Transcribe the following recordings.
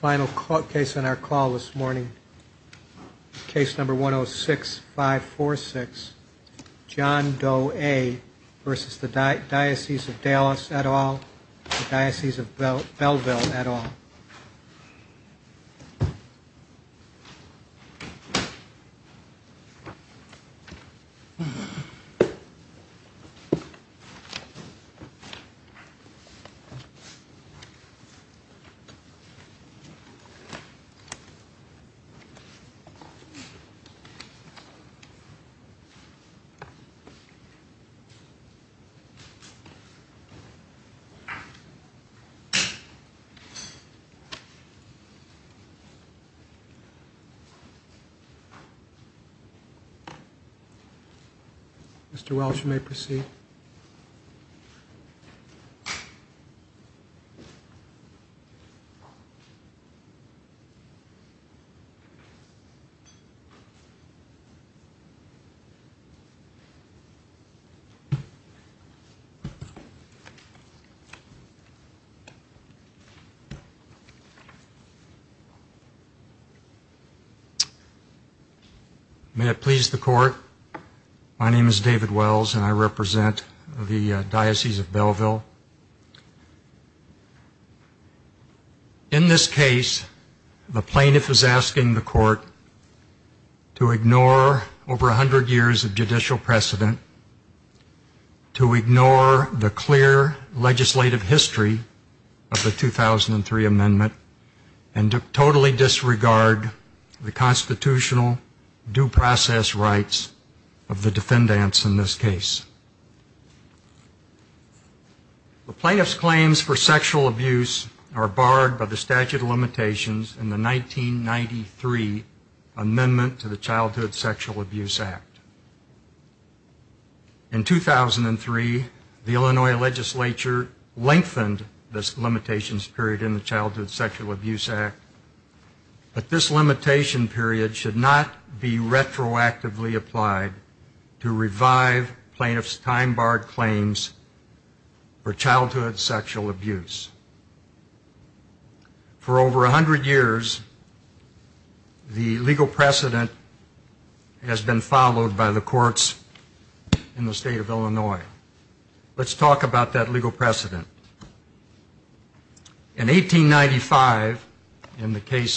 Final case on our call this morning. Case number 106546, John Doe A v. Diocese of Dallas et al. v. Diocese of Belleville et al. Mr. Welch, you may proceed. Mr. Welch, you may proceed. Mr. Welch, you may proceed. Mr. Welch, you may proceed. Mr. Welch, you may proceed. Mr. Welch, you may proceed. Mr. Welch, you may proceed. In 1895, in the case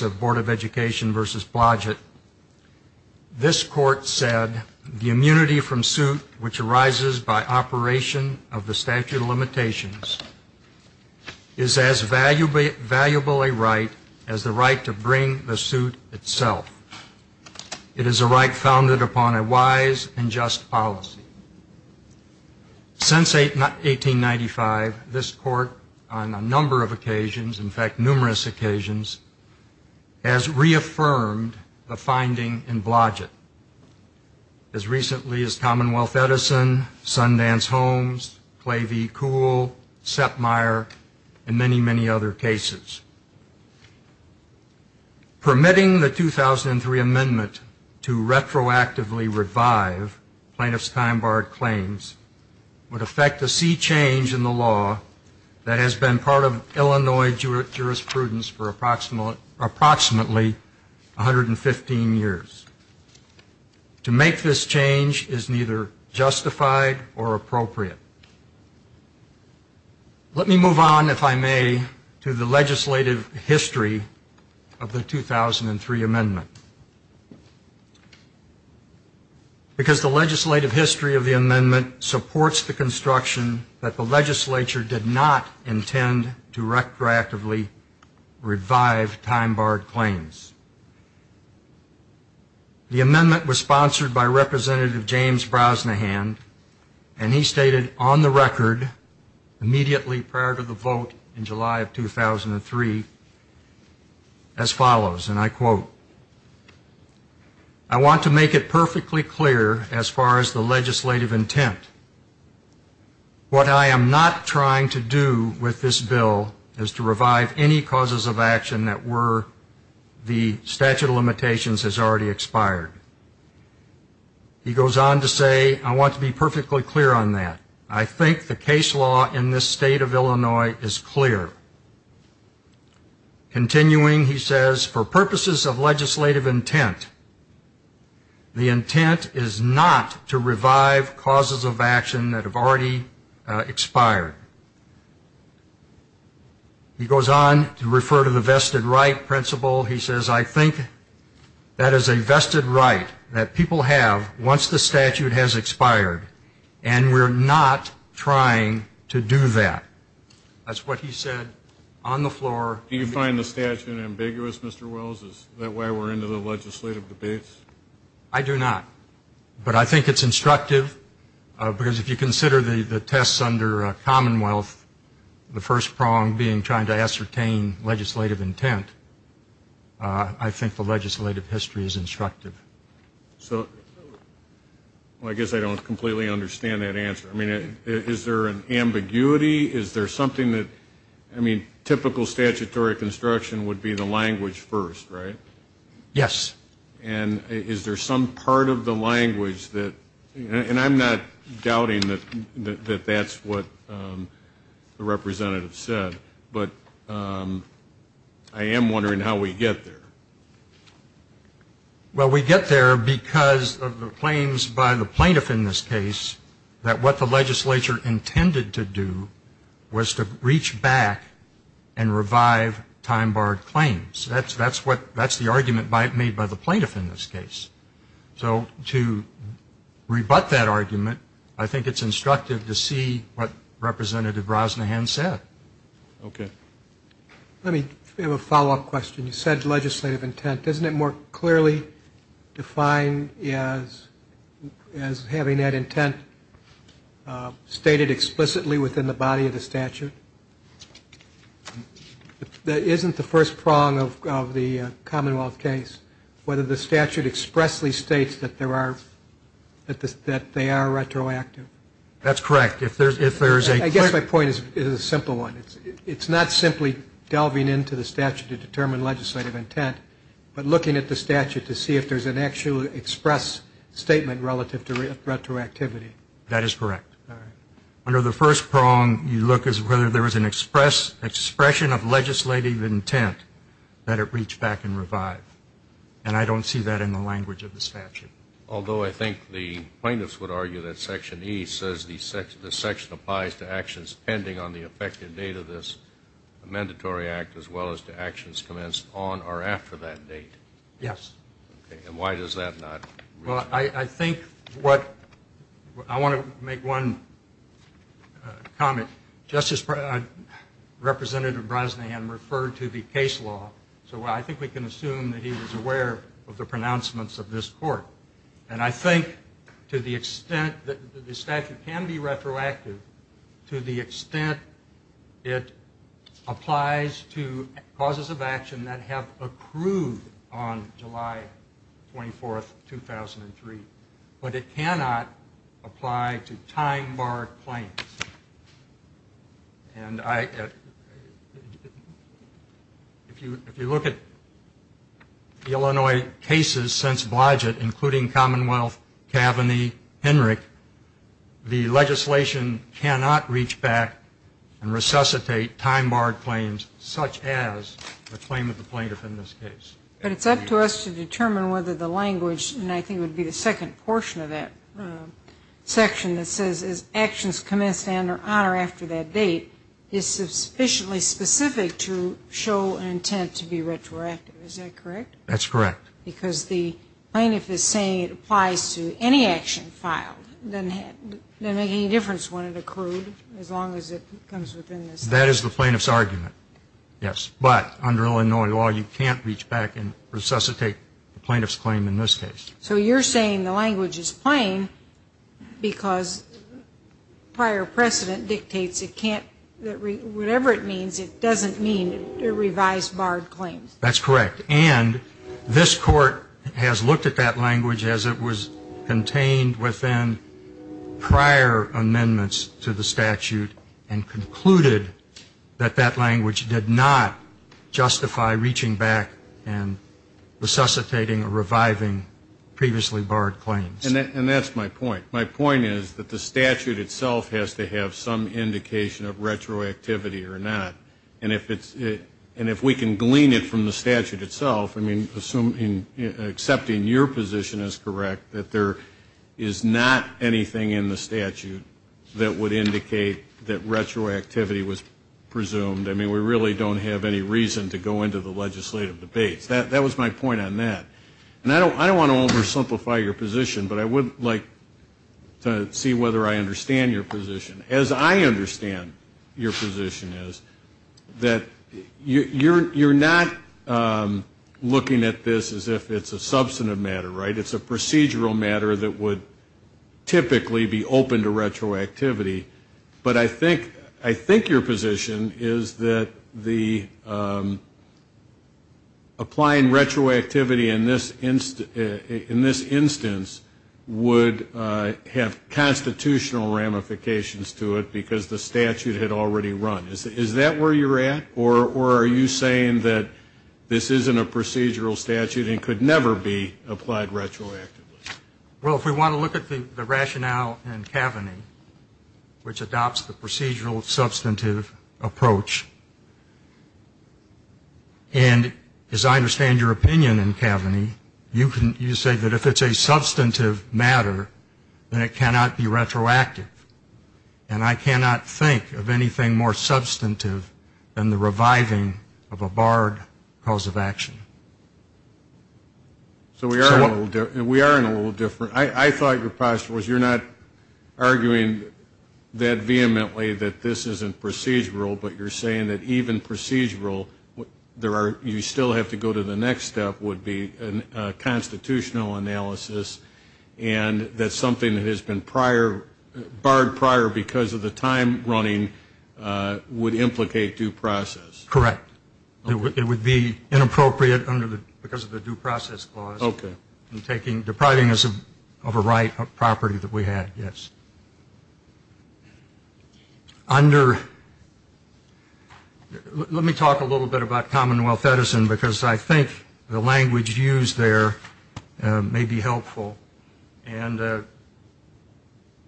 of the Board of Education V. Blodgett, this court said that the immunity from suit which arises by operation of the statute of limitations is as valuable a right as the right to bring the suit itself. It is a right founded upon a wise and just policy. Since 1895, this court on a number of occasions, in fact numerous occasions, has reaffirmed the finding in Blodgett, as recently as Commonwealth Edison, Sundance Homes, Clay v. Kuhl, Sepmeyer, and many, many other cases. Permitting the 2003 amendment to retroactively revive plaintiff's time barred claims would affect a sea change in the law that has been part of Illinois jurisprudence for approximately 115 years. To make this change is neither justified or appropriate. Let me move on, if I may, to the legislative history of the 2003 amendment. Because the legislative history of the amendment supports the construction that the legislature did not intend to retroactively revive time barred claims. The amendment was sponsored by Representative James Brosnahan, and he stated on the record, immediately prior to the vote in July of 2003, as follows, and I quote, I want to make it perfectly clear, as far as the legislative intent, what I am not trying to do with this bill is to revive any causes of action that were the statute of limitations has already expired. He goes on to say, I want to be perfectly clear on that, I think the case law in this state of Illinois is clear. Continuing, he says, for purposes of legislative intent, the intent is not to revive causes of action that have already expired. He goes on to refer to the vested right principle, he says, I think that is a vested right that people have once the statute has expired, and we're not trying to do that. That's what he said on the floor. Do you find the statute ambiguous, Mr. Wells? Is that why we're into the legislative debates? I do not. But I think it's instructive, because if you consider the tests under Commonwealth, the first prong being trying to ascertain legislative intent, I think the legislative history is instructive. So, I guess I don't completely understand that answer. I mean, is there an ambiguity? Is there something that, I mean, typical statutory construction would be the language first, right? Yes. And is there some part of the language that, and I'm not doubting that that's what the representative said, but I am wondering how we get there. Well we get there because of the claims by the plaintiff in this case that what the legislature intended to do was to reach back and revive time-barred claims. That's what, that's the argument made by the plaintiff in this case. So to rebut that argument, I think it's instructive to see what Representative Rosnahan said. Okay. Let me, we have a follow-up question. You said legislative intent. Doesn't it more clearly define as having that intent stated explicitly within the body of the statute? Isn't the first prong of the Commonwealth case whether the statute expressly states that there are, that they are retroactive? That's correct. If there's a... I guess my point is a simple one. It's not simply delving into the statute to determine legislative intent, but looking at the statute to see if there's an actual express statement relative to retroactivity. That is correct. Under the first prong, you look as whether there was an express expression of legislative intent that it reached back and revived. And I don't see that in the language of the statute. Although I think the plaintiffs would argue that Section E says the section applies to actions commenced on or after that date. Yes. Okay. And why does that not... Well, I think what, I want to make one comment. Justice, Representative Rosnahan referred to the case law, so I think we can assume that he was aware of the pronouncements of this court. And I think to the extent that the statute can be retroactive, to the extent it applies to causes of action that have accrued on July 24, 2003, but it cannot apply to time bar claims. And if you look at Illinois cases since Blodgett, including Commonwealth, Kavanaugh, Henrich, the legislation cannot reach back and resuscitate time bar claims such as the claim of the plaintiff in this case. But it's up to us to determine whether the language, and I think it would be the second portion of that section that says actions commenced on or after that date, is sufficiently specific to show an intent to be retroactive. Is that correct? That's correct. Because the plaintiff is saying it applies to any action filed. It doesn't make any difference when it accrued, as long as it comes within the statute. That is the plaintiff's argument, yes. But under Illinois law, you can't reach back and resuscitate the plaintiff's claim in this case. So you're saying the language is plain because prior precedent dictates it can't, whatever it means, it doesn't mean to revise barred claims. That's correct. And this Court has looked at that language as it was contained within prior amendments to the statute and concluded that that language did not justify reaching back and resuscitating or reviving previously barred claims. And that's my point. My point is that the statute itself has to have some indication of retroactivity or not. And if we can glean it from the statute itself, I mean, accepting your position as correct, that there is not anything in the statute that would indicate that retroactivity was presumed. I mean, we really don't have any reason to go into the legislative debates. That was my point on that. And I don't want to oversimplify your position, but I would like to see whether I understand your position, as I understand your position is, that you're not looking at this as if it's a substantive matter, right? It's a procedural matter that would typically be open to retroactivity. But I think your position is that applying retroactivity in this instance would have constitutional ramifications to it because the statute had already run. Is that where you're at? Or are you saying that this isn't a procedural statute and could never be applied retroactively? Well, if we want to look at the rationale in Kaveny, which adopts the procedural substantive approach, and as I understand your opinion in Kaveny, you say that if it's a substantive matter, then it cannot be retroactive. And I cannot think of anything more substantive than the reviving of a barred cause of action. So we are in a little different. I thought your posture was you're not arguing that vehemently that this isn't procedural, but you're saying that even procedural, you still have to go to the next step, would be a constitutional analysis, and that's something that has been barred prior because of the time running, would implicate due process. Correct. It would be inappropriate because of the due process clause in depriving us of a right of property that we had, yes. Let me talk a little bit about Commonwealth Edison, because I think the language used there may be helpful. And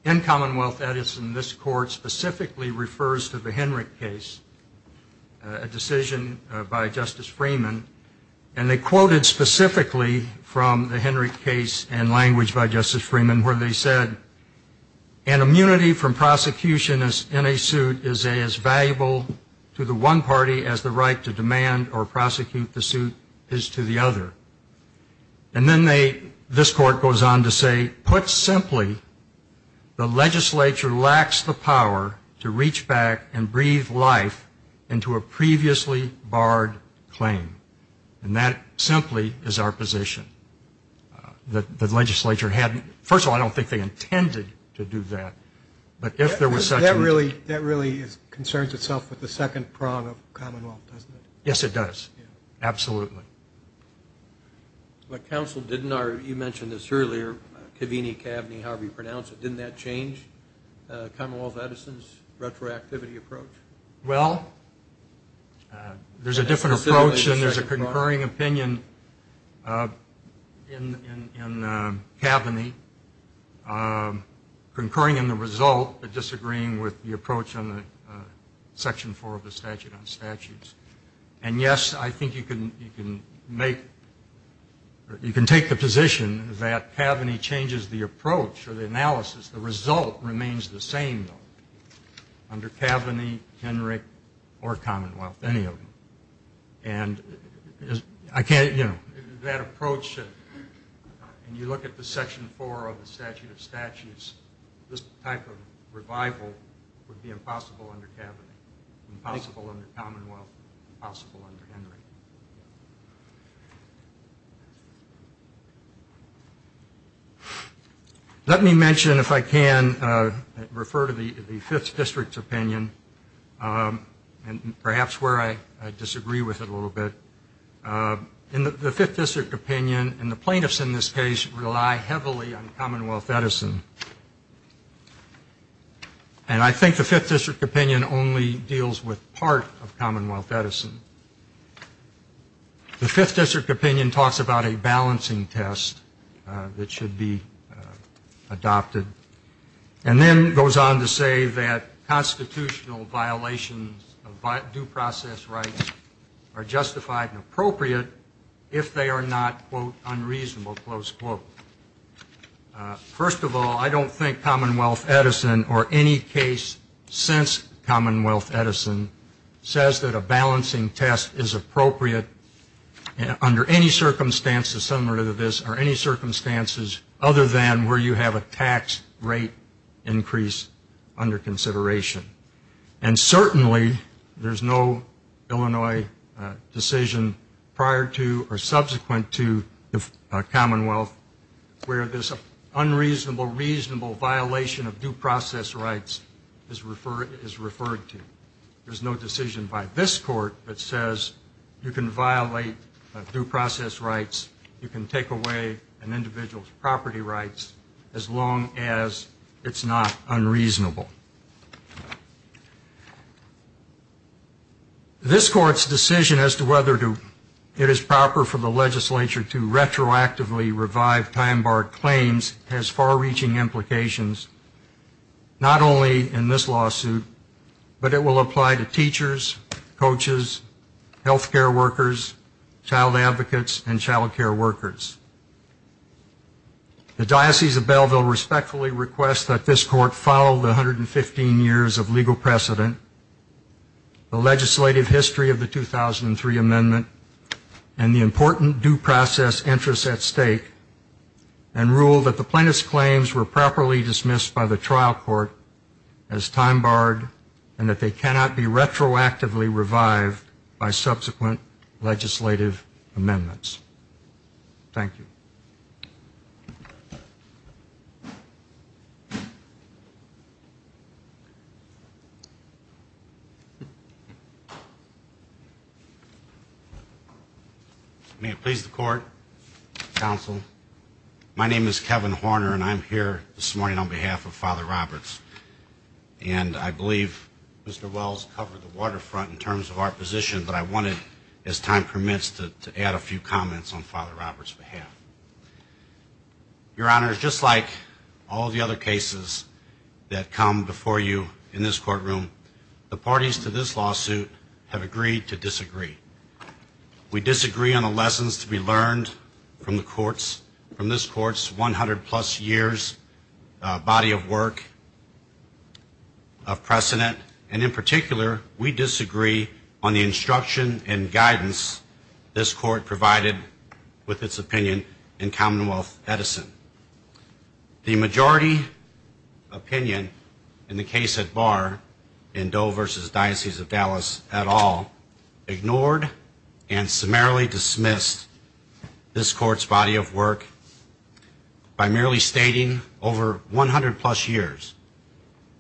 in Commonwealth Edison, this court specifically refers to the Henrich case, a decision by Justice Freeman, and they quoted specifically from the Henrich case and language by Justice Freeman where they said, an immunity from prosecution in a suit is as valuable to the one party as the right to demand or prosecute the suit is to the other. And then this court goes on to say, put simply, the legislature lacks the power to reach back and breathe life into a previously barred claim. And that simply is our position, that the legislature hadn't, first of all, I don't think they intended to do that, but if there was such a... That really concerns itself with the second prong of Commonwealth, doesn't it? Yes, it does, absolutely. But counsel, didn't our, you mentioned this earlier, Kavini, Kavni, however you pronounce it, didn't that change Commonwealth Edison's retroactivity approach? Well, there's a different approach and there's a concurring opinion in Kavni, concurring in the result, but disagreeing with the approach on the section four of the statute on statutes. And yes, I think you can make, you can take the position that Kavni changes the approach or the analysis, the result remains the same though, under Kavni, Henrick, or Commonwealth, any of them. And I can't, you know, that approach, and you look at the section four of the statute of statutes, this type of revival would be impossible under Kavni, impossible under Commonwealth, impossible under Henrick. Let me mention, if I can, refer to the fifth district's opinion, and perhaps where I disagree with it a little bit. The fifth district opinion, and the plaintiffs in this case, rely heavily on Commonwealth Edison. And I think the fifth district opinion only deals with part of Commonwealth Edison. The fifth district opinion talks about a balancing test that should be adopted, and then goes on to say that constitutional violations of due process rights are justified and appropriate if they are not, quote, unreasonable, close quote. First of all, I don't think Commonwealth Edison, or any case since Commonwealth Edison, says that a balancing test is appropriate under any circumstances similar to this, or any circumstances other than where you have a tax rate increase under consideration. And certainly, there's no Illinois decision prior to, or subsequent to, the Commonwealth where this unreasonable, reasonable violation of due process rights is referred to. There's no decision by this court that says you can violate due process rights, you can take away an individual's property rights, as long as it's not unreasonable. This court's decision as to whether it is proper for the legislature to retroactively revive time-barred claims has far-reaching implications, not only in this lawsuit, but it will apply to teachers, coaches, healthcare workers, child advocates, and child care workers. The Diocese of Belleville respectfully requests that this court follow the 115 years of legal precedent, the legislative history of the 2003 amendment, and the important due process interests at stake, and rule that the plaintiff's claims were properly dismissed by the trial court as time-barred, and that they cannot be retroactively revived by subsequent legislative amendments. Thank you. May it please the court, counsel. My name is Kevin Horner, and I'm here this morning on behalf of Father Roberts. And I believe Mr. Wells covered the waterfront in terms of our position, but I wanted, as time permits, to add a few comments on Father Roberts' behalf. Your Honor, just like all the other cases that come before you in this courtroom, the parties to this lawsuit have agreed to disagree. We disagree on the lessons to be learned from this court's 100-plus years body of work of precedent, and in particular, we disagree on the instruction and guidance this court provided with its opinion in Commonwealth Edison. The majority opinion in the case at bar in Doe v. Diocese of Dallas et al. ignored and summarily dismissed this court's body of work by merely stating over 100-plus years,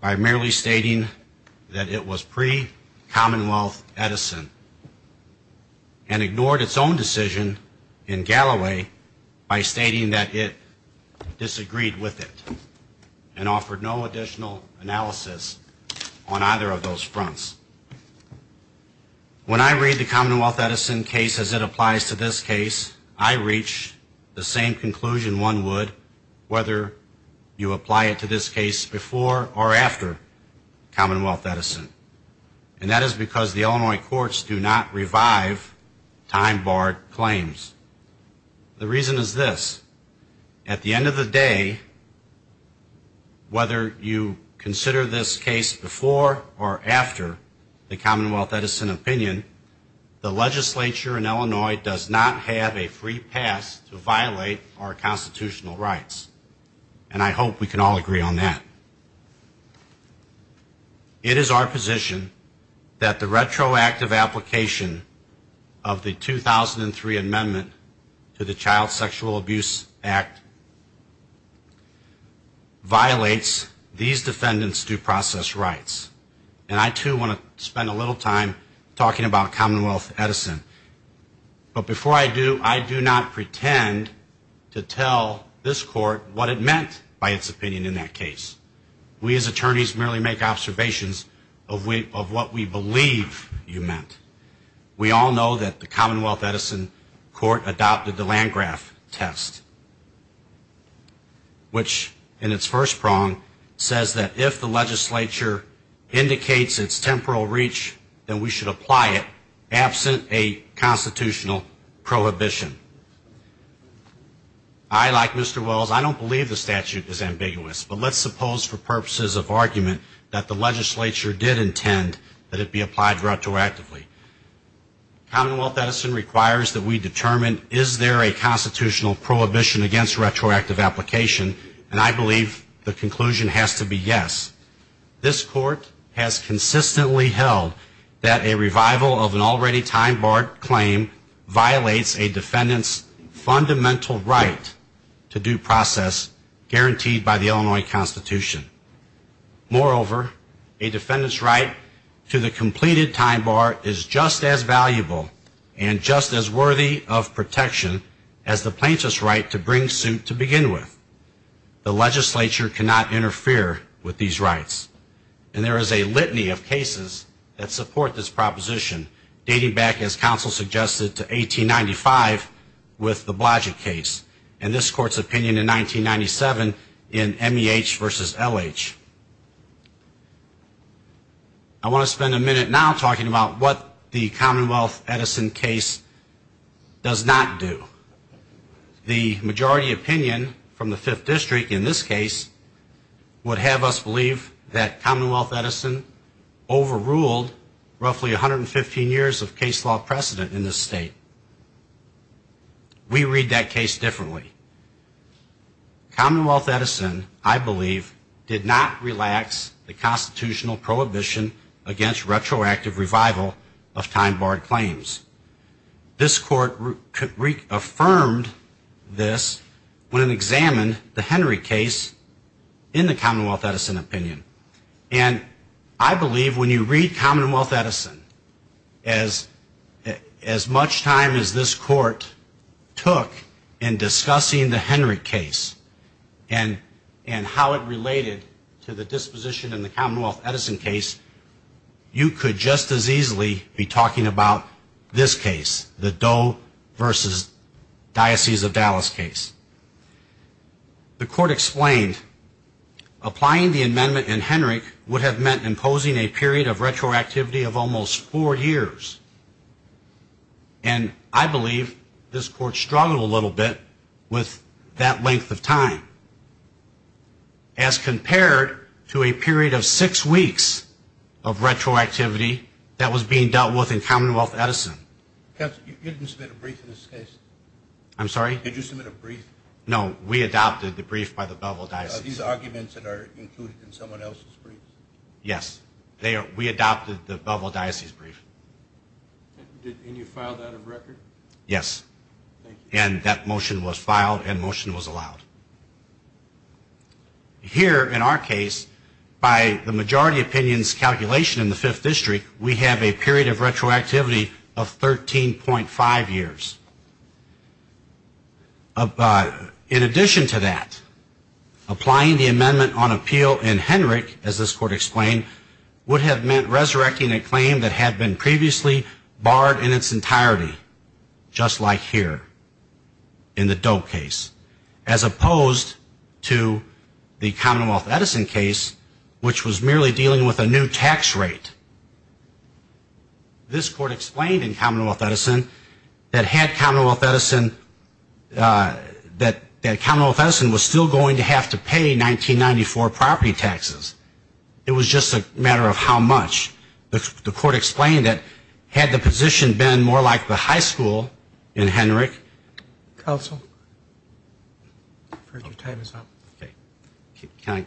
by merely stating that it was pre-Commonwealth Edison, and ignored its own decision in Galloway by stating that it disagreed with it, and offered no additional analysis on either of these cases. In the Commonwealth Edison case as it applies to this case, I reach the same conclusion one would whether you apply it to this case before or after Commonwealth Edison, and that is because the Illinois courts do not revive time-barred claims. The reason is this. At the end of the day, whether you consider this case before or after the Commonwealth Edison case, the legislature in Illinois does not have a free pass to violate our constitutional rights, and I hope we can all agree on that. It is our position that the retroactive application of the 2003 amendment to the Child Sexual Abuse Act violates these defendants' due process rights, and I too want to spend a little time talking about Commonwealth Edison, but before I do, I do not pretend to tell this court what it meant by its opinion in that case. We as attorneys merely make observations of what we believe you meant. We all know that the Commonwealth Edison court adopted the Landgraf test, which in its first prong says that if the legislature indicates its temporal reach, then we should apply it absent a constitutional prohibition. I, like Mr. Wells, I don't believe the statute is ambiguous, but let's suppose for purposes of argument that the legislature did intend that it be applied retroactively. Commonwealth Edison requires that we determine is there a constitutional prohibition against retroactive application, and I believe the conclusion has to be yes. This court has consistently held that a revival of an already time-barred claim violates a defendant's fundamental right to due process guaranteed by the Illinois Constitution. Moreover, a defendant's right to the completed time bar is just as valuable and just as worthy of protection as the plaintiff's right to bring suit to begin with. The legislature cannot interfere with these rights, and there is a litany of cases that support this proposition dating back, as counsel suggested, to 1895 with the Blodgett case and this court's opinion in 1997 in MEH versus LH. I want to spend a minute now talking about what the Commonwealth Edison case does not do. The majority opinion from the Fifth District in this case would have us believe that Commonwealth Edison overruled roughly 115 years of case law precedent in this state. We read that case differently. Commonwealth Edison, I believe, did not relax the constitutional prohibition against retroactive revival of time-barred claims. This court affirmed this when it examined the Henry case in the Commonwealth Edison opinion, and I believe when you read Commonwealth Edison, as much time as this court took in discussing the Henry case and how it related to the disposition in the Commonwealth Edison case, you could just as easily be talking about this case, the Doe versus Diocese of Dallas case. The court explained applying the amendment in Henry would have meant imposing a period of retroactivity of almost four years, and I believe this court struggled a little bit with that length of time as compared to a period of six weeks of retroactivity that was being dealt with in Commonwealth Edison. You didn't submit a brief in this case? I'm sorry? Did you submit a brief? No, we adopted the brief by the Belleville Diocese. Are these arguments that are included in someone else's brief? Yes. We adopted the Belleville Diocese brief. And you filed that in record? Yes. And that motion was filed and motion was allowed. Here, in our case, by the majority opinion's calculation in the 5th District, we have a period of retroactivity of 13.5 years. In addition to that, applying the amendment on appeal in Henry, as this court explained in Commonwealth Edison, that Commonwealth Edison was still going to have to pay 1994 property taxes. It was just a matter of how much. The court explained that had the position been more like the high school in Henry, I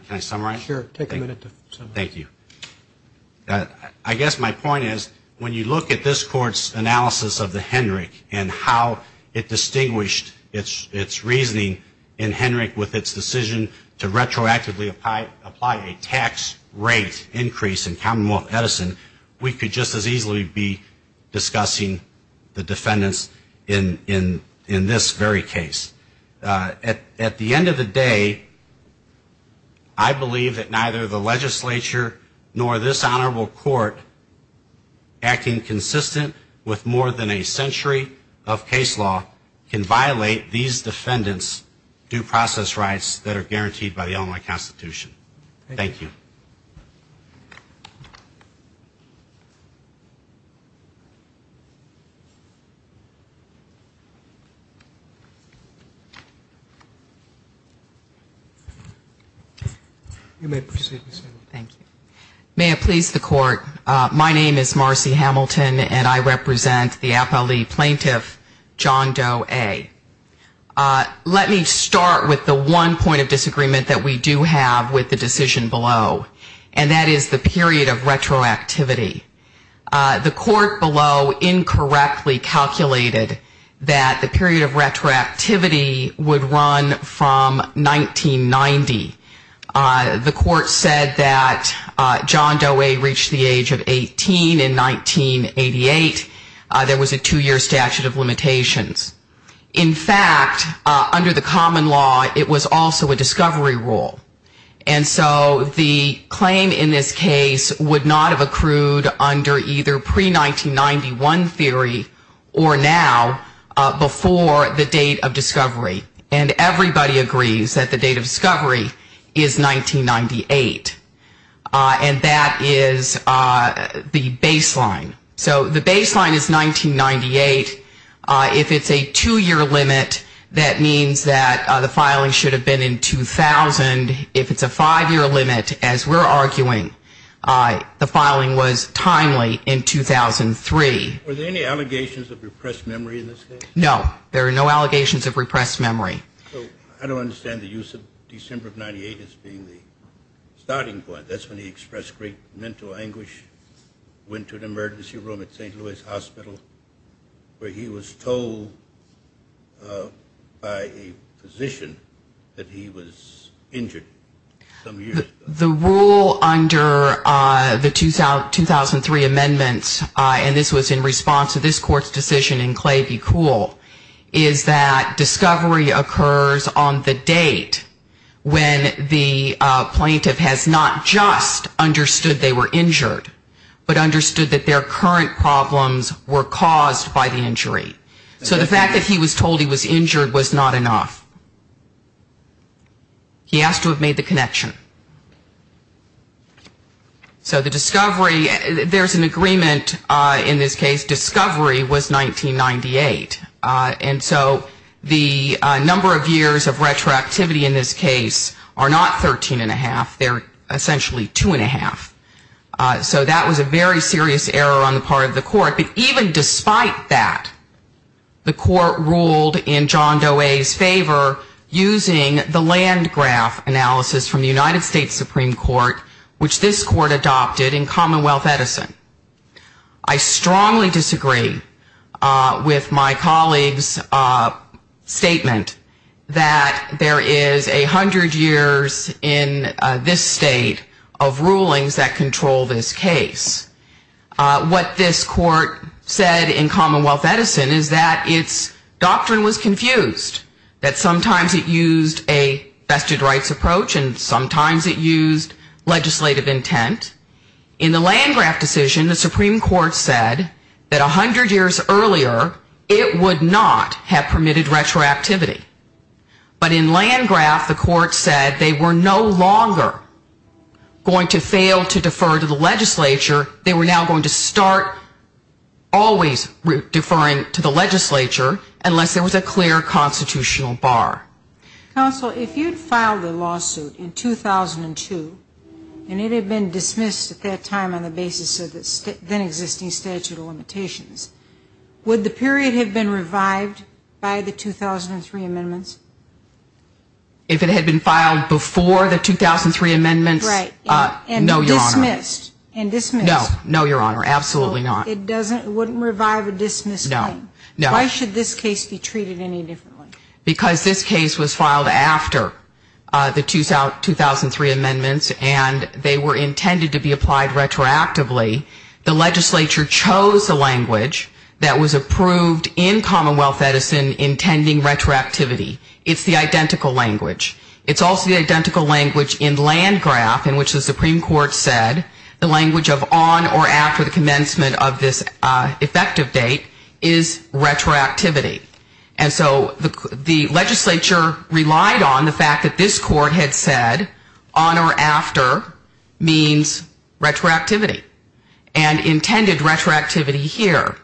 guess my point is when you look at this court's analysis of the Henry and how it distinguished its reasoning in Henry with its decision to retroactively apply a tax rate increase in Commonwealth Edison, we could just as easily be discussing the defendants in this very case. At the end of the day, I believe that neither the legislature nor this honorable court, acting consistent with more than a century of case law, can violate these defendants' due process rights that are guaranteed by the Illinois Constitution. Thank you. Marcy Hamilton You may proceed, Ms. Hamilton. Marcy Hamilton Thank you. May it please the court, my name is Marcy Hamilton and I represent the appellee plaintiff John Doe A. Let me start with the one point of disagreement that we do have with the decision below, and that is the period of retroactivity. The court below incorrectly calculated that the period of retroactivity would run from 1990. The court said that John Doe A. reached the age of 18 in 1988. There was a two-year statute of limitations. In fact, under the common law, it was also a discovery rule. And so the claim in this case is that John Doe A. would not have accrued under either pre-1991 theory or now before the date of discovery. And everybody agrees that the date of discovery is 1998. And that is the baseline. So the baseline is 1998. If it's a two-year limit, that means that the filing should have been in 2000. If it's a five-year limit, as we're arguing, the filing was timely in 2003. John Doe A. Were there any allegations of repressed memory in this case? Marcy Hamilton No. There are no allegations of repressed memory. John Doe A. So I don't understand the use of December of 98 as being the starting point. That's when he expressed great mental anguish, went to an institution, that he was injured some years ago. Marcy Hamilton The rule under the 2003 amendments, and this was in response to this court's decision in Clay v. Kuhl, is that discovery occurs on the date when the plaintiff has not just understood they were injured, but understood that their current problems were caused by the injury. So the fact that he was told he was injured was not enough. He has to have made the connection. So the discovery, there's an agreement in this case, discovery was 1998. And so the number of years of retroactivity in this case are not 13-and-a-half, they're essentially 2-and-a-half. So that was a very serious error on the part of the court. But even despite that, the court ruled in John Doe A.'s favor using the land graph analysis from the United States Supreme Court, which this court adopted in Commonwealth Edison. I strongly disagree with my colleague's statement that there is a hundred years in this state of rulings that have not been considered. And I strongly disagree with my colleague's statement that there is a hundred years in this state of rulings that control this case. What this court said in Commonwealth Edison is that its doctrine was confused, that sometimes it used a vested rights approach, and sometimes it used legislative intent. In the land graph decision, the Supreme Court said that a hundred years earlier, it would not have permitted retroactivity. But in land graph, the court said they were no longer going to fail to do retroactivity. They were not going to defer to the legislature. They were now going to start always deferring to the legislature unless there was a clear constitutional bar. Counsel, if you'd filed a lawsuit in 2002, and it had been dismissed at that time on the basis of the then-existing statute of limitations, would the period have been revived by the 2003 amendments? If it had been filed before the 2003 amendments, no, Your Honor. And dismissed? No, Your Honor, absolutely not. It wouldn't revive a dismissed claim? No. Why should this case be treated any differently? Because this case was filed after the 2003 amendments, and they were intended to be applied retroactively. The legislature chose the language that was approved in Commonwealth Edison intending retroactivity. It's the identical language. It's also the identical language in land graph in which the Supreme Court said the language of on or after the commencement of this effective date is retroactivity. And so the legislature relied on the fact that this court had said on or after means retroactivity and intended retroactivity here.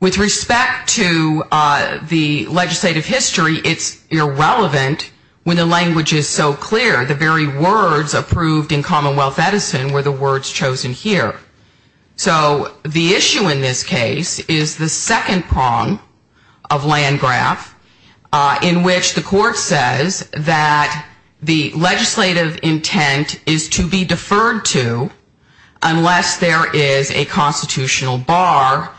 With respect to the legislative history, it's irrelevant when the language is so clear. The very words approved in Commonwealth Edison were the words chosen here. So the issue in this case is the second prong of land graph in which the court says that the legislative intent is to be deferred to unless there is a constitutional bar.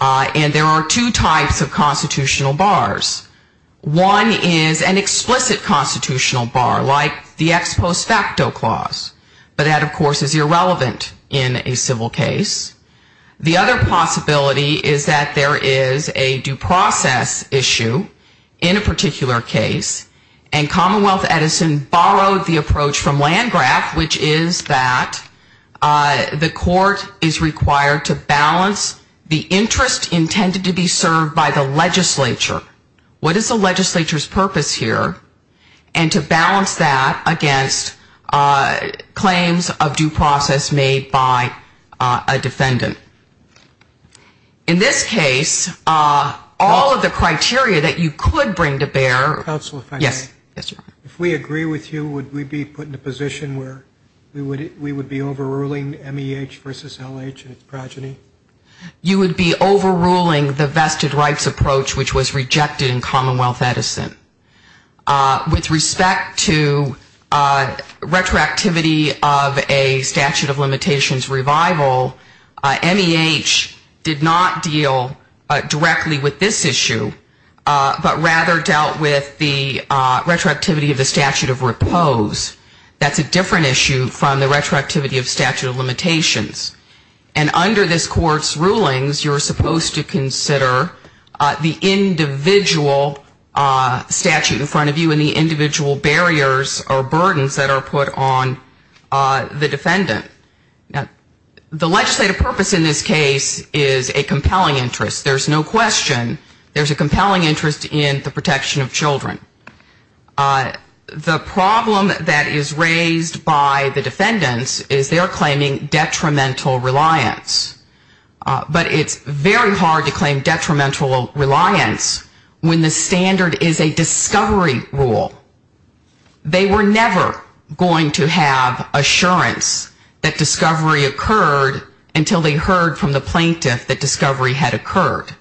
And there are two types of constitutional bars. One is an explicit constitutional bar like the ex post facto clause, but that, of course, is irrelevant in a civil case. The other possibility is that there is a due process issue in a particular case, and Commonwealth Edison borrowed the approach from land graph, which is that the court is required to balance the interest of the legislative intent with the interest of the legislative intent. The interest intended to be served by the legislature. What is the legislature's purpose here? And to balance that against claims of due process made by a defendant. In this case, all of the criteria that you could bring to bear. Yes. If we agree with you, would we be put in a position where we would be overruling MEH versus LH in its progeny? You would be overruling the vested rights approach, which was rejected in Commonwealth Edison. With respect to retroactivity of a statute of limitations revival, MEH did not deal directly with this issue, but rather dealt with the rest of the statute of limitations. And under this court's rulings, you are supposed to consider the individual statute in front of you and the individual barriers or burdens that are put on the defendant. The legislative purpose in this case is a compelling interest. There's no question there's a compelling interest in the protection of children. The problem that is raised by the defendants is they're claiming detrimental reliance. But it's very hard to claim detrimental reliance when the standard is a discovery rule. They were never going to have assurance that discovery occurred until they heard from the plaintiff that discovery had occurred.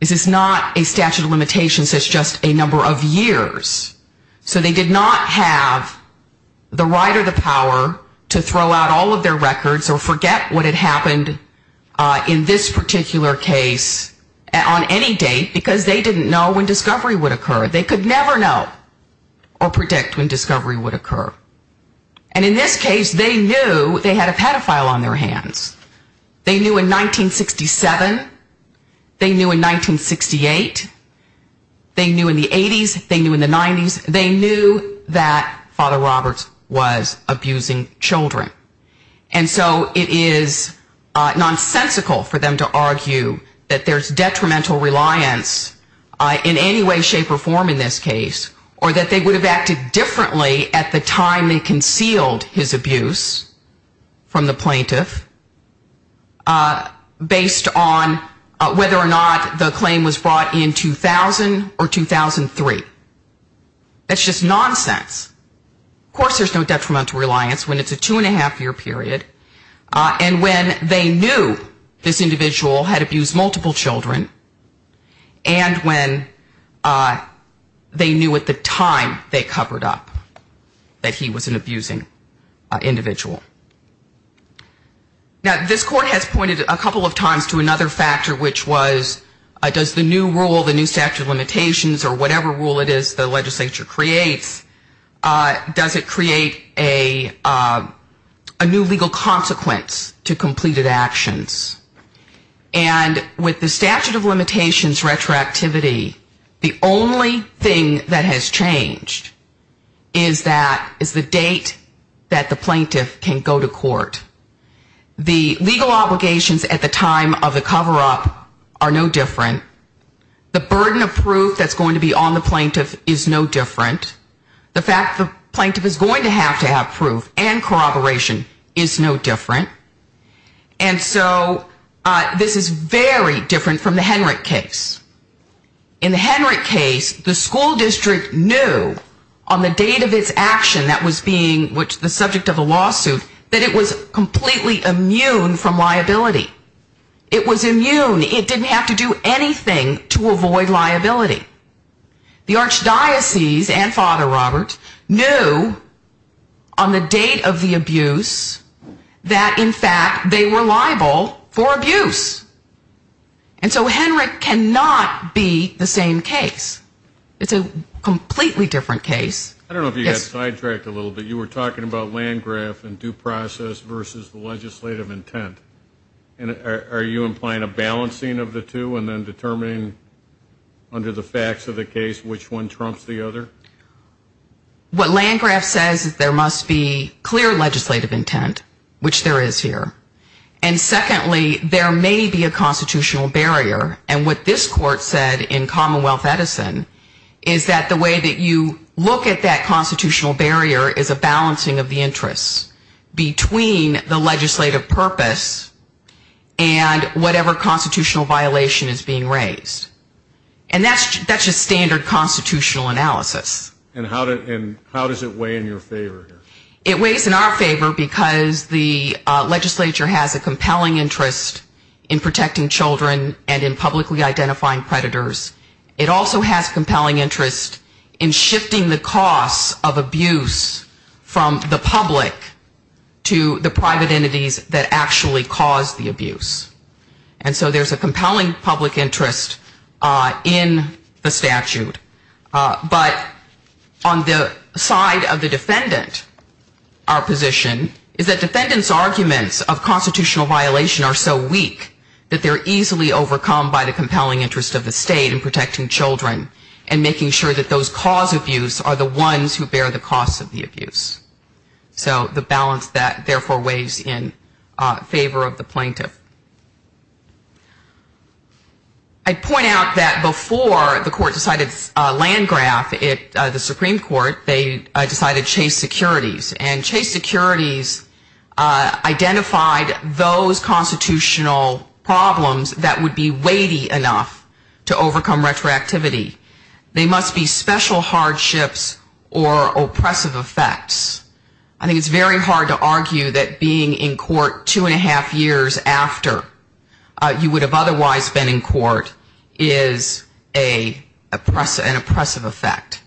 This is not a statute of limitations, it's just a number of years. So they did not have the right or the power to throw out all of their records or forget what had happened in this particular case on any date because they didn't know when discovery would occur. They could never know or predict when discovery would occur. And in this case, they knew they had a pedophile on their hands. They knew in 1967, they knew in 1968, they knew in the 80s, they knew in the 90s, they knew that Father Roberts was abusing children. And so it is nonsensical for them to argue that there's detrimental reliance in any way, shape or form in this case, or that they would have acted differently at the time they concealed his abuse from the plaintiff based on whether or not the claim was brought in 2000 or 2003. That's just nonsense. Of course there's no detrimental reliance when it's a two and a half year period and when they knew this individual had abused multiple children and when they knew at the time they covered up that he was an abusing individual. Now, this court has pointed a couple of times to another factor, which was does the new rule, the new statute of limitations or whatever rule it is the legislature creates, does it create a new legal consequence to completed actions? And with the statute of limitations retroactivity, the only thing that has changed is that, is the date that the plaintiff can go to court. The legal obligations at the time of the cover up are no different. The burden of proof that's going to be on the plaintiff is no different. The fact the plaintiff is going to have to have proof and corroboration is no different. And so this is very different from the Henrich case. In the Henrich case the school district knew on the date of its action that was being the subject of a lawsuit that it was completely immune from liability. It was immune. It didn't have to do anything to avoid liability. The archdiocese and Father Robert knew on the date of the abuse that in fact they were liable for abuse. And so Henrich cannot be the same case. It's a completely different case. I don't know if you got sidetracked a little bit. You were talking about Landgraf and due process versus the legislative intent. Are you implying a balancing of the two and then determining under the facts of the case which one trumps the other? What Landgraf says is there must be clear legislative intent, which there is here. And secondly, there may be a constitutional barrier. And what this court said in Commonwealth Edison is that the way that you look at that constitutional barrier is a balancing of the interests between the legislative purpose and whatever constitutional violation is being raised. And that's just standard constitutional analysis. And how does it weigh in your favor here? It weighs in our favor because the legislature has a compelling interest in protecting children and in publicly identifying predators. It also has compelling interest in shifting the costs of abuse from the public to the private entities that actually cause the abuse. And so there's a compelling public interest in the statute. But on the side of the defendant, our position is that defendant's arguments of constitutional violation are so weak that they're easily overcome by the compelling interest of the state in protecting children and making sure that those cause abuse are the ones who bear the costs of the abuse. So the balance that therefore weighs in favor of the plaintiff. I'd point out that before the court decided Landgraf, the Supreme Court, they decided Chase Securities. And Chase Securities identified those constitutional problems that would be weighty enough to overcome retroactivity. They must be special hardships or oppressive effects. I think it's very hard to argue that being in court two and a half years after you would have otherwise been in court is an oppressive effect.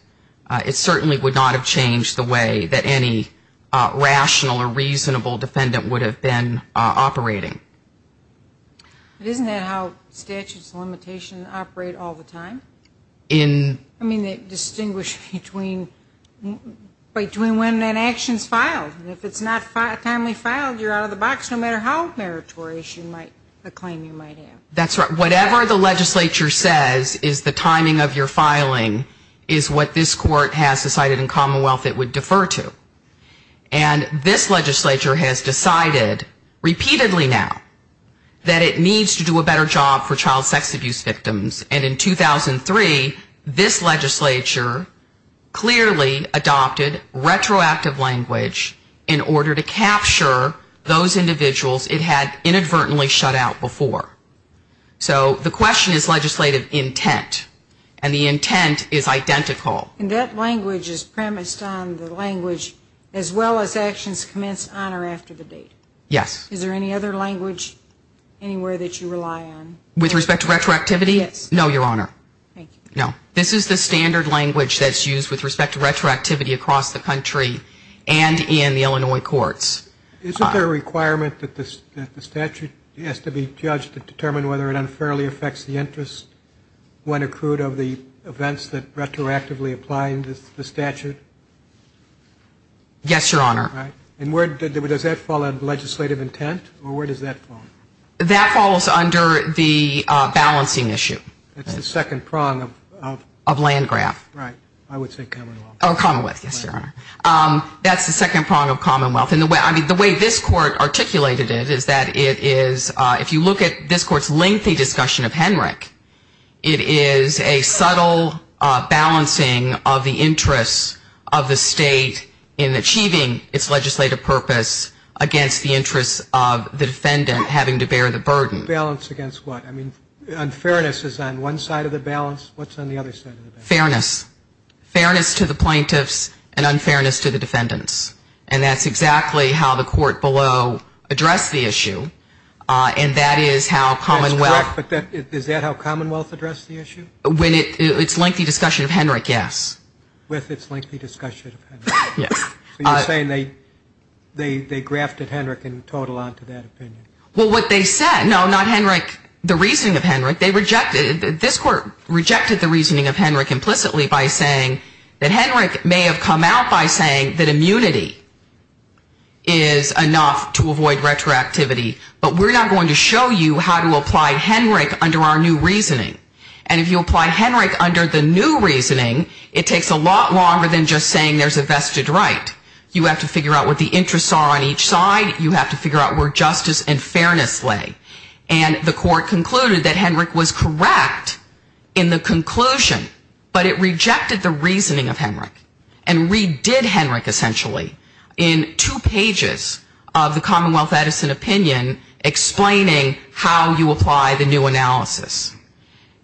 It certainly would not have changed the way that any rational or reasonable defendant would have been operating. Isn't that how statutes of limitation operate all the time? I mean, they distinguish between when an action's filed. And if it's not timely filed, you're out of the box no matter how meritorious a claim you might have. That's right. Whatever the legislature says is the timing of your filing is what this court has decided in commonwealth it would defer to. And this legislature has decided repeatedly now that it needs to do a better job for child sex abuse victims. And in 2003, this legislature clearly adopted retroactive language in order to capture those individuals it had inadvertently shut out before. So the question is legislative intent. And the intent is identical. And that language is premised on the language as well as actions commenced on or after the date. Yes. Is there any other language anywhere that you rely on? With respect to retroactivity? No, Your Honor. This is the standard language that's used with respect to retroactivity across the country and in the Illinois courts. Isn't there a requirement that the statute has to be judged to determine whether it unfairly affects the interest when accrued of the events that retroactively apply in the statute? Yes, Your Honor. And does that fall under legislative intent or where does that fall? That falls under the balancing issue. That's the second prong of commonwealth. That's the second prong of commonwealth. And the way this court articulated it is that it is, if you look at this court's lengthy discussion of Henrich, it is a subtle balancing of the interest of the state in achieving its goal. And it's a balance of the plaintiffs' legislative purpose against the interest of the defendant having to bear the burden. Balance against what? I mean, unfairness is on one side of the balance. What's on the other side of the balance? Fairness. Fairness to the plaintiffs and unfairness to the defendants. And that's exactly how the court below addressed the issue. And that is how commonwealth. That's correct, but is that how commonwealth addressed the issue? With its lengthy discussion of Henrich, yes. So you're saying they grafted Henrich in total onto that opinion? Well, what they said, no, not Henrich, the reasoning of Henrich. They rejected, this court rejected the reasoning of Henrich implicitly by saying that Henrich may have come out by saying that immunity is enough to avoid retroactivity, but we're not going to show you how to apply Henrich under our new reasoning. And if you apply Henrich under the new reasoning, it takes a lot longer than just saying there's a vested right. You have to figure out what the interests are on each side. You have to figure out where justice and fairness lay. And the court concluded that Henrich was correct in the conclusion, but it rejected the reasoning of Henrich and redid Henrich essentially in two pages of the Commonwealth Edison opinion explaining how you apply the new analysis.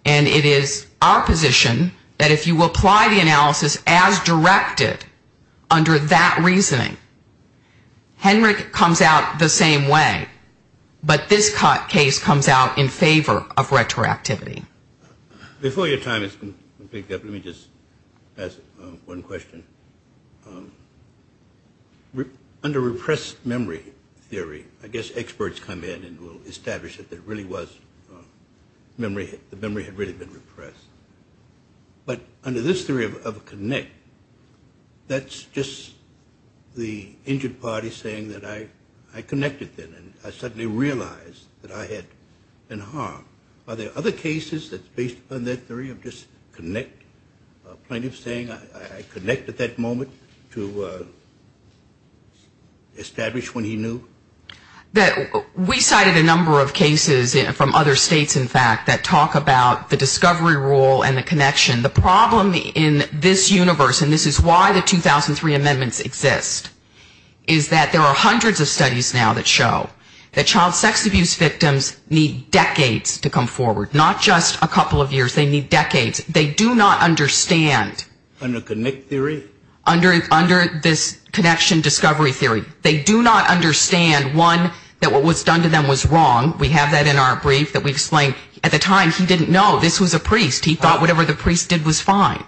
And it is our position that if you apply the analysis as directed under that reasoning, Henrich comes out the same way. But this case comes out in favor of retroactivity. Before your time is up, let me just ask one question. Under repressed memory theory, I guess experts come in and will establish that there really was memory. The memory had really been repressed. But under this theory of connect, that's just the injured party saying that I connected then and I suddenly realized that I had been harmed. Are there other cases that's based on that theory of just connect? A plaintiff saying I connect at that moment to establish when he knew? We cited a number of cases from other states, in fact, that talk about the discovery rule and the connection. The problem in this universe, and this is why the 2003 amendments exist, is that there are hundreds of studies now that show that child sex abuse victims need decades to come forward, not just a couple of years. They need decades. They do not understand. Under connect theory? Under this connection discovery theory. They do not understand, one, that what was done to them was wrong. We have that in our brief that we explain at the time he didn't know this was a priest. He thought whatever the priest did was fine.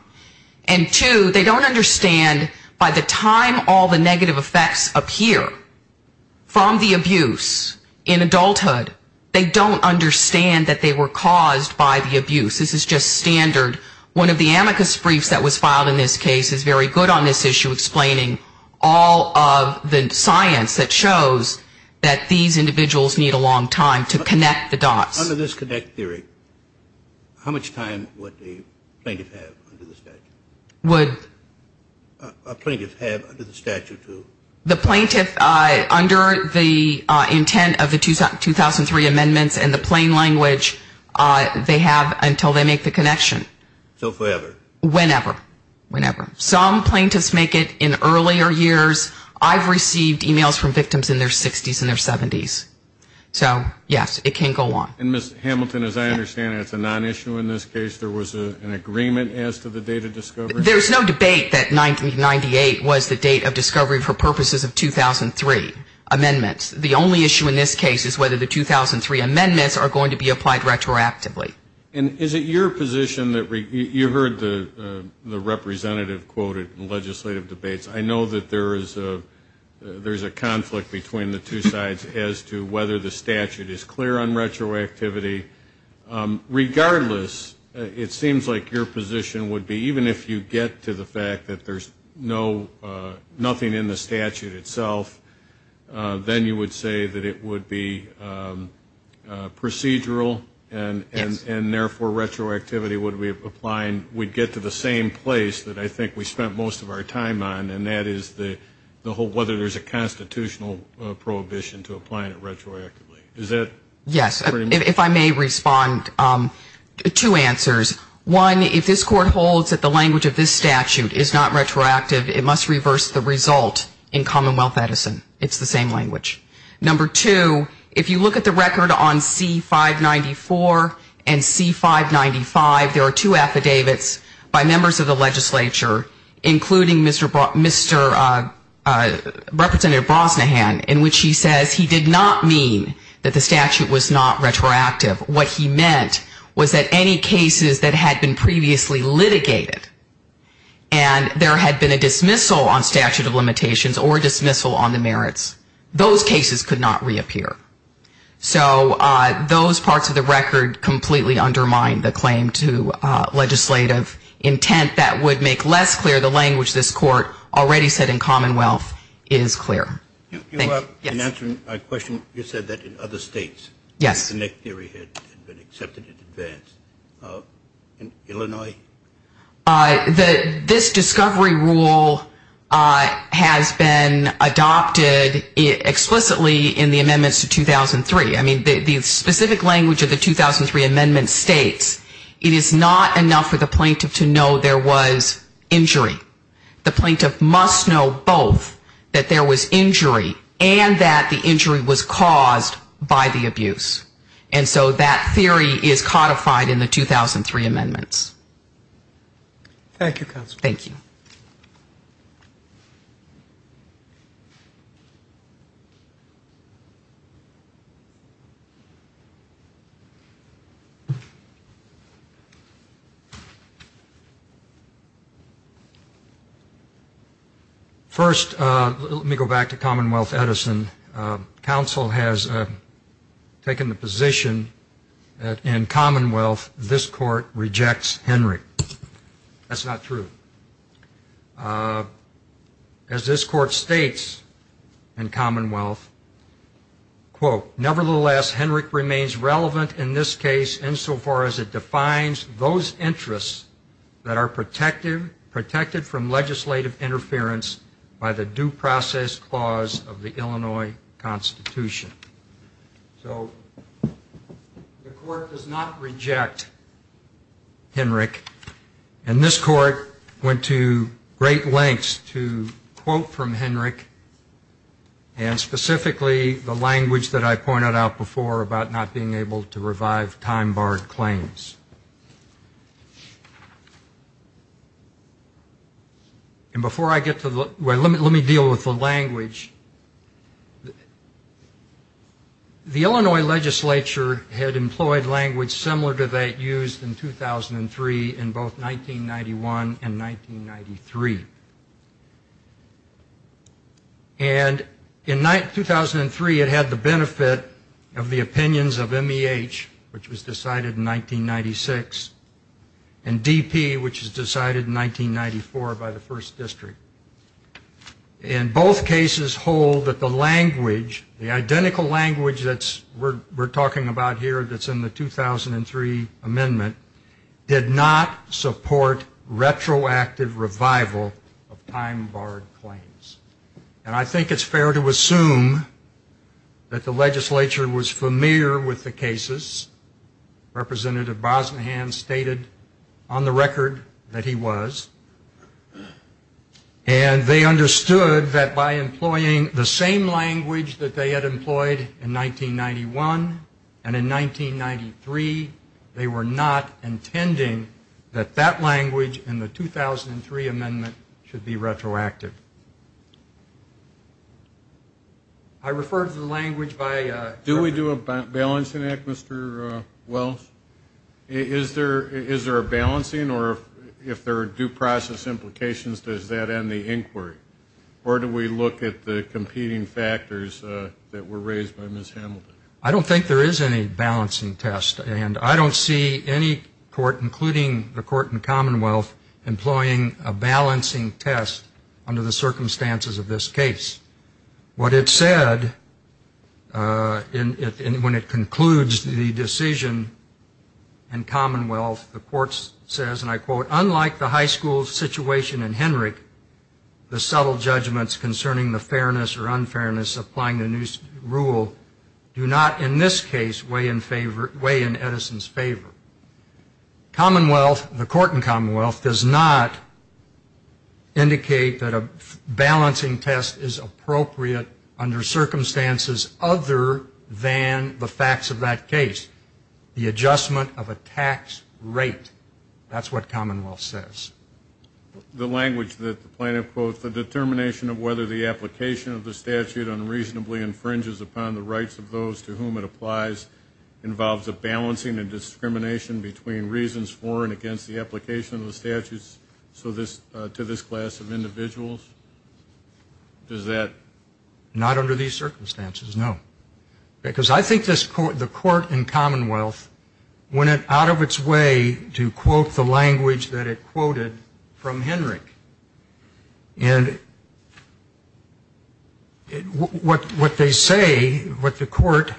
And two, they don't understand by the time all the negative effects appear from the abuse in adulthood, they don't understand that they were caused by the abuse. This is just standard. One of the amicus briefs that was filed in this case is very good on this issue, explaining all of the science that shows that these individuals need a decade to come forward, not just a couple of years to come forward, but decades to come forward. And that's what the plaintiff had under the statute. A plaintiff had under the statute? The plaintiff, under the intent of the 2003 amendments and the plain language, they have until they make the connection. So forever? Whenever. Some plaintiffs make it in earlier years. I've received e-mails from victims in their 60s and their 70s. So yes, it can go on. And Ms. Hamilton, as I understand it, it's a non-issue in this case. There was an agreement as to the date of discovery? There's no debate that 1998 was the date of discovery for purposes of 2003 amendments. The only issue in this case is whether the 2003 amendments are going to be applied retroactively. And is it your position that you heard the representative quoted in legislative debates. I know that there is a conflict between the two sides as to whether the statute is clear on retroactivity. Regardless, it seems like your position would be even if you get to the fact that there's nothing in the statute itself, then you would say that it would be procedural and therefore retroactivity would be applying. We'd get to the same place that I think we spent most of our time on, and that is whether there's a constitutional prohibition to applying it retroactively. Yes, if I may respond, two answers. One, if this Court holds that the language of this statute is not retroactive, it must reverse the result in Commonwealth Edison. It's the same language. Number two, if you look at the record on C-594 and C-595, there are two affidavits by members of the legislature, including Mr. Representative Brosnahan, in which he says he did not mean that the statute was not retroactive. What he meant was that any cases that had been previously litigated and there had been a dismissal on statute of limitations or a dismissal on the merits, those cases could not reappear. So those parts of the record completely undermine the claim to legislative intent that would make less clear the language this Court already said in Commonwealth is clear. Thank you. Yes. My question, you said that in other states the neck theory had been accepted in advance. In Illinois? This discovery rule has been adopted explicitly in the amendments to 2003. I mean, the specific language of the 2003 amendment states it is not enough for the plaintiff to know there was injury. The plaintiff must know both, that there was injury and that the injury was caused by the abuse. And so that theory is codified in the 2003 amendments. Thank you. First, let me go back to Commonwealth Edison. Council has taken the position that in Commonwealth this Court rejects Henry. That's not true. As this Court states in Commonwealth, quote, nevertheless Henry remains relevant in this case insofar as it defines those interests that are protected from legislative interference by the due process clause of the Illinois Constitution. So the Court does not reject Henry. And this Court went to great lengths to quote from Henry and specifically the language that I pointed out before about not being able to revive time-barred claims. And before I get to the, well, let me deal with the language. The Illinois legislature had employed language similar to that used in 2003 in both 1991 and 1993. And in 2003, it had the benefit of the opinions of MEH, which was decided in 1996, and DP, which was decided in 1994 by the 1st District. And both cases hold that the language, the identical language that we're talking about here that's in the 2003 amendment, did not support retroactive revival of time-barred claims. And I think it's fair to assume that the legislature was familiar with the cases. Representative Bosnahan stated on the record that he was. And they understood that by employing the same language that they had employed in 1991 and in 1993, they were not intending that that language in the 2003 amendment should be retroactive. I refer to the language by the Do we do a balancing act, Mr. Wells? Is there a balancing, or if there are due process implications, does that end the inquiry? Or do we look at the competing factors that were raised by Ms. Hamilton? I don't think there is any balancing test, and I don't see any court, including the court and commonwealth, employing a balancing test under the circumstances of this case. What it said when it concludes the decision in commonwealth, the court says, and I quote, unlike the high school situation in Henrich, the subtle judgments concerning the fairness or unfairness applying the new rule do not in this case weigh in Edison's favor. Commonwealth, the court in commonwealth, does not indicate that a balancing test is appropriate under circumstances other than the facts of that case. The adjustment of a tax rate, that's what commonwealth says. The language that the plaintiff quotes, the determination of whether the application of the statute unreasonably infringes upon the rights of those to whom it applies, involves a balancing and discrimination between reasons for and against the application of the statutes to this class of individuals? Not under these circumstances, no. Because I think the court in commonwealth went out of its way to quote the language that it quoted from Henrich. And what they say, what the court,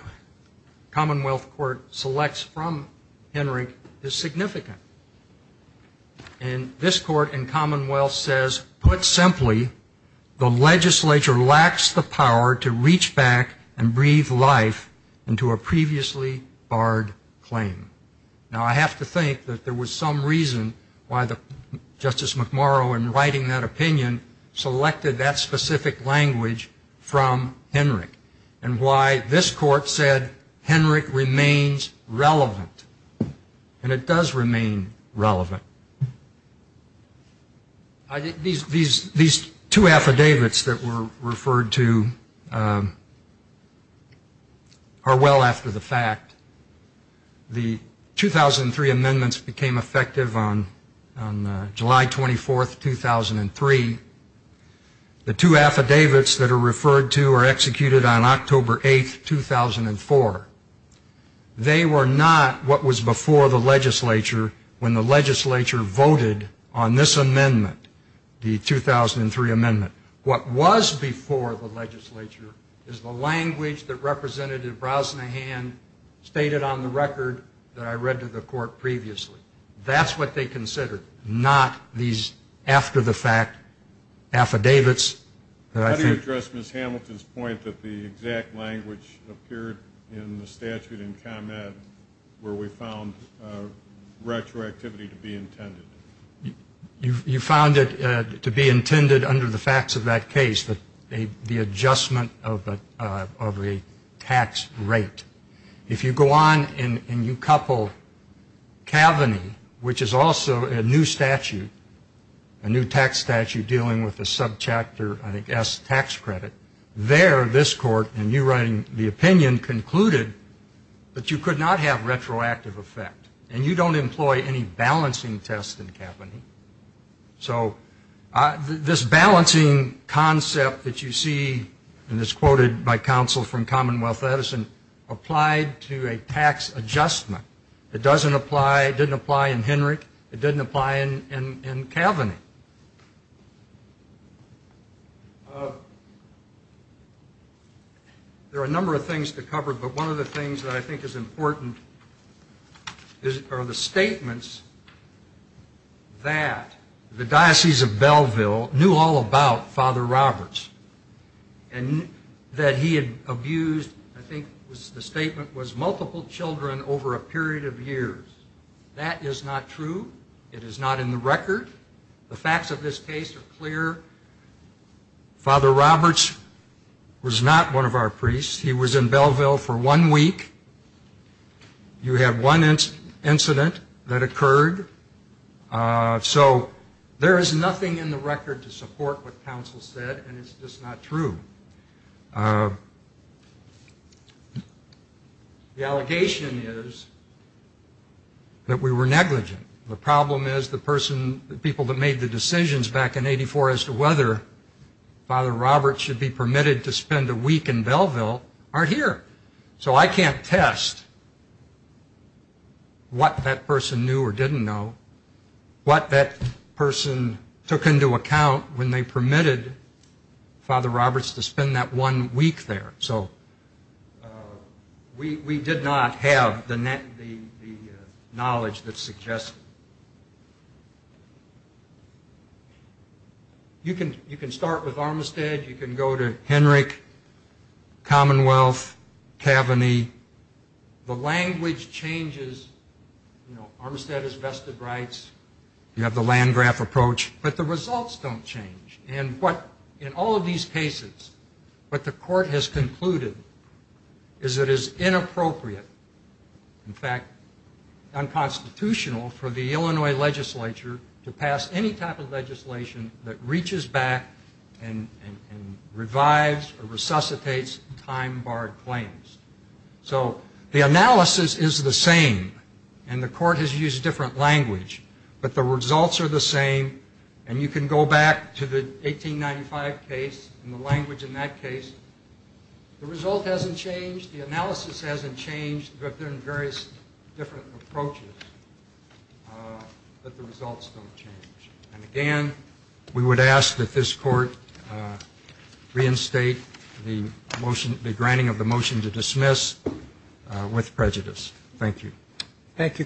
commonwealth court, selects from Henrich is significant. And this court in commonwealth says, put simply, the legislature lacks the power to reach back and breathe life into a previously barred claim. Now, I have to think that there was some reason why Justice McMurrow, in writing that opinion, selected that specific language from Henrich. And why this court said Henrich remains relevant. And it does remain relevant. These two affidavits that were referred to are well after the fact. The 2003 amendments became effective on July 24, 2003. The two affidavits that are referred to are executed on October 8, 2004. They were not what was before the legislature when the legislature voted on this amendment, the 2003 amendment. What was before the legislature is the language that Representative Brosnahan stated on the record that I read to the court previously. That's what they considered, not these after the fact affidavits. How do you address Ms. Hamilton's point that the exact language appeared in the statute in commonwealth where we found retroactivity to be intended? You found it to be intended under the facts of that case, the adjustment of a tax rate. If you go on and you couple Kavanagh, which is also a new statute, a new tax statute dealing with a subchapter, I think, S tax credit, there this court, in you writing the opinion, concluded that you could not have retroactive effect. And you don't employ any balancing test in Kavanagh. So this balancing concept that you see, and it's quoted by counsel from commonwealth Edison, applied to a tax adjustment. It didn't apply in Henrich, it didn't apply in Kavanagh. There are a number of things to cover, but one of the things that I think is important are the statements that the Diocese of Belleville knew all about Father Roberts and that he had abused, I think the statement was multiple children over a period of years. That is not true. It is not in the record. The facts of this case are clear. Father Roberts was not one of our priests. He was in Belleville for one week. You have one incident that occurred. So there is nothing in the record to support what counsel said, and it's just not true. The allegation is that we were negligent. The problem is the person, the people that made the decisions back in 84 as to whether Father Roberts should be permitted to spend a week in Belleville aren't here. So I can't test what that person knew or didn't know, what that person took into account when they permitted Father Roberts to spend that one week there. We did not have the knowledge that suggests it. You can start with Armistead. You can go to Henrick, Commonwealth, Kavanagh. The language changes. Armistead has vested rights. You have the Landgraf approach. But the results don't change. In all of these cases, what the court has concluded is that it is inappropriate, in fact, unconstitutional for the Illinois legislature to pass any type of legislation that reaches back and revives or resuscitates time-barred claims. So the analysis is the same, and the court has used different language. But the results are the same, and you can go back to the 1895 case and the language in that case. The result hasn't changed, the analysis hasn't changed, but there are various different approaches that the results don't change. And again, we would ask that this court reinstate the granting of the motion to dismiss with prejudice. Thank you.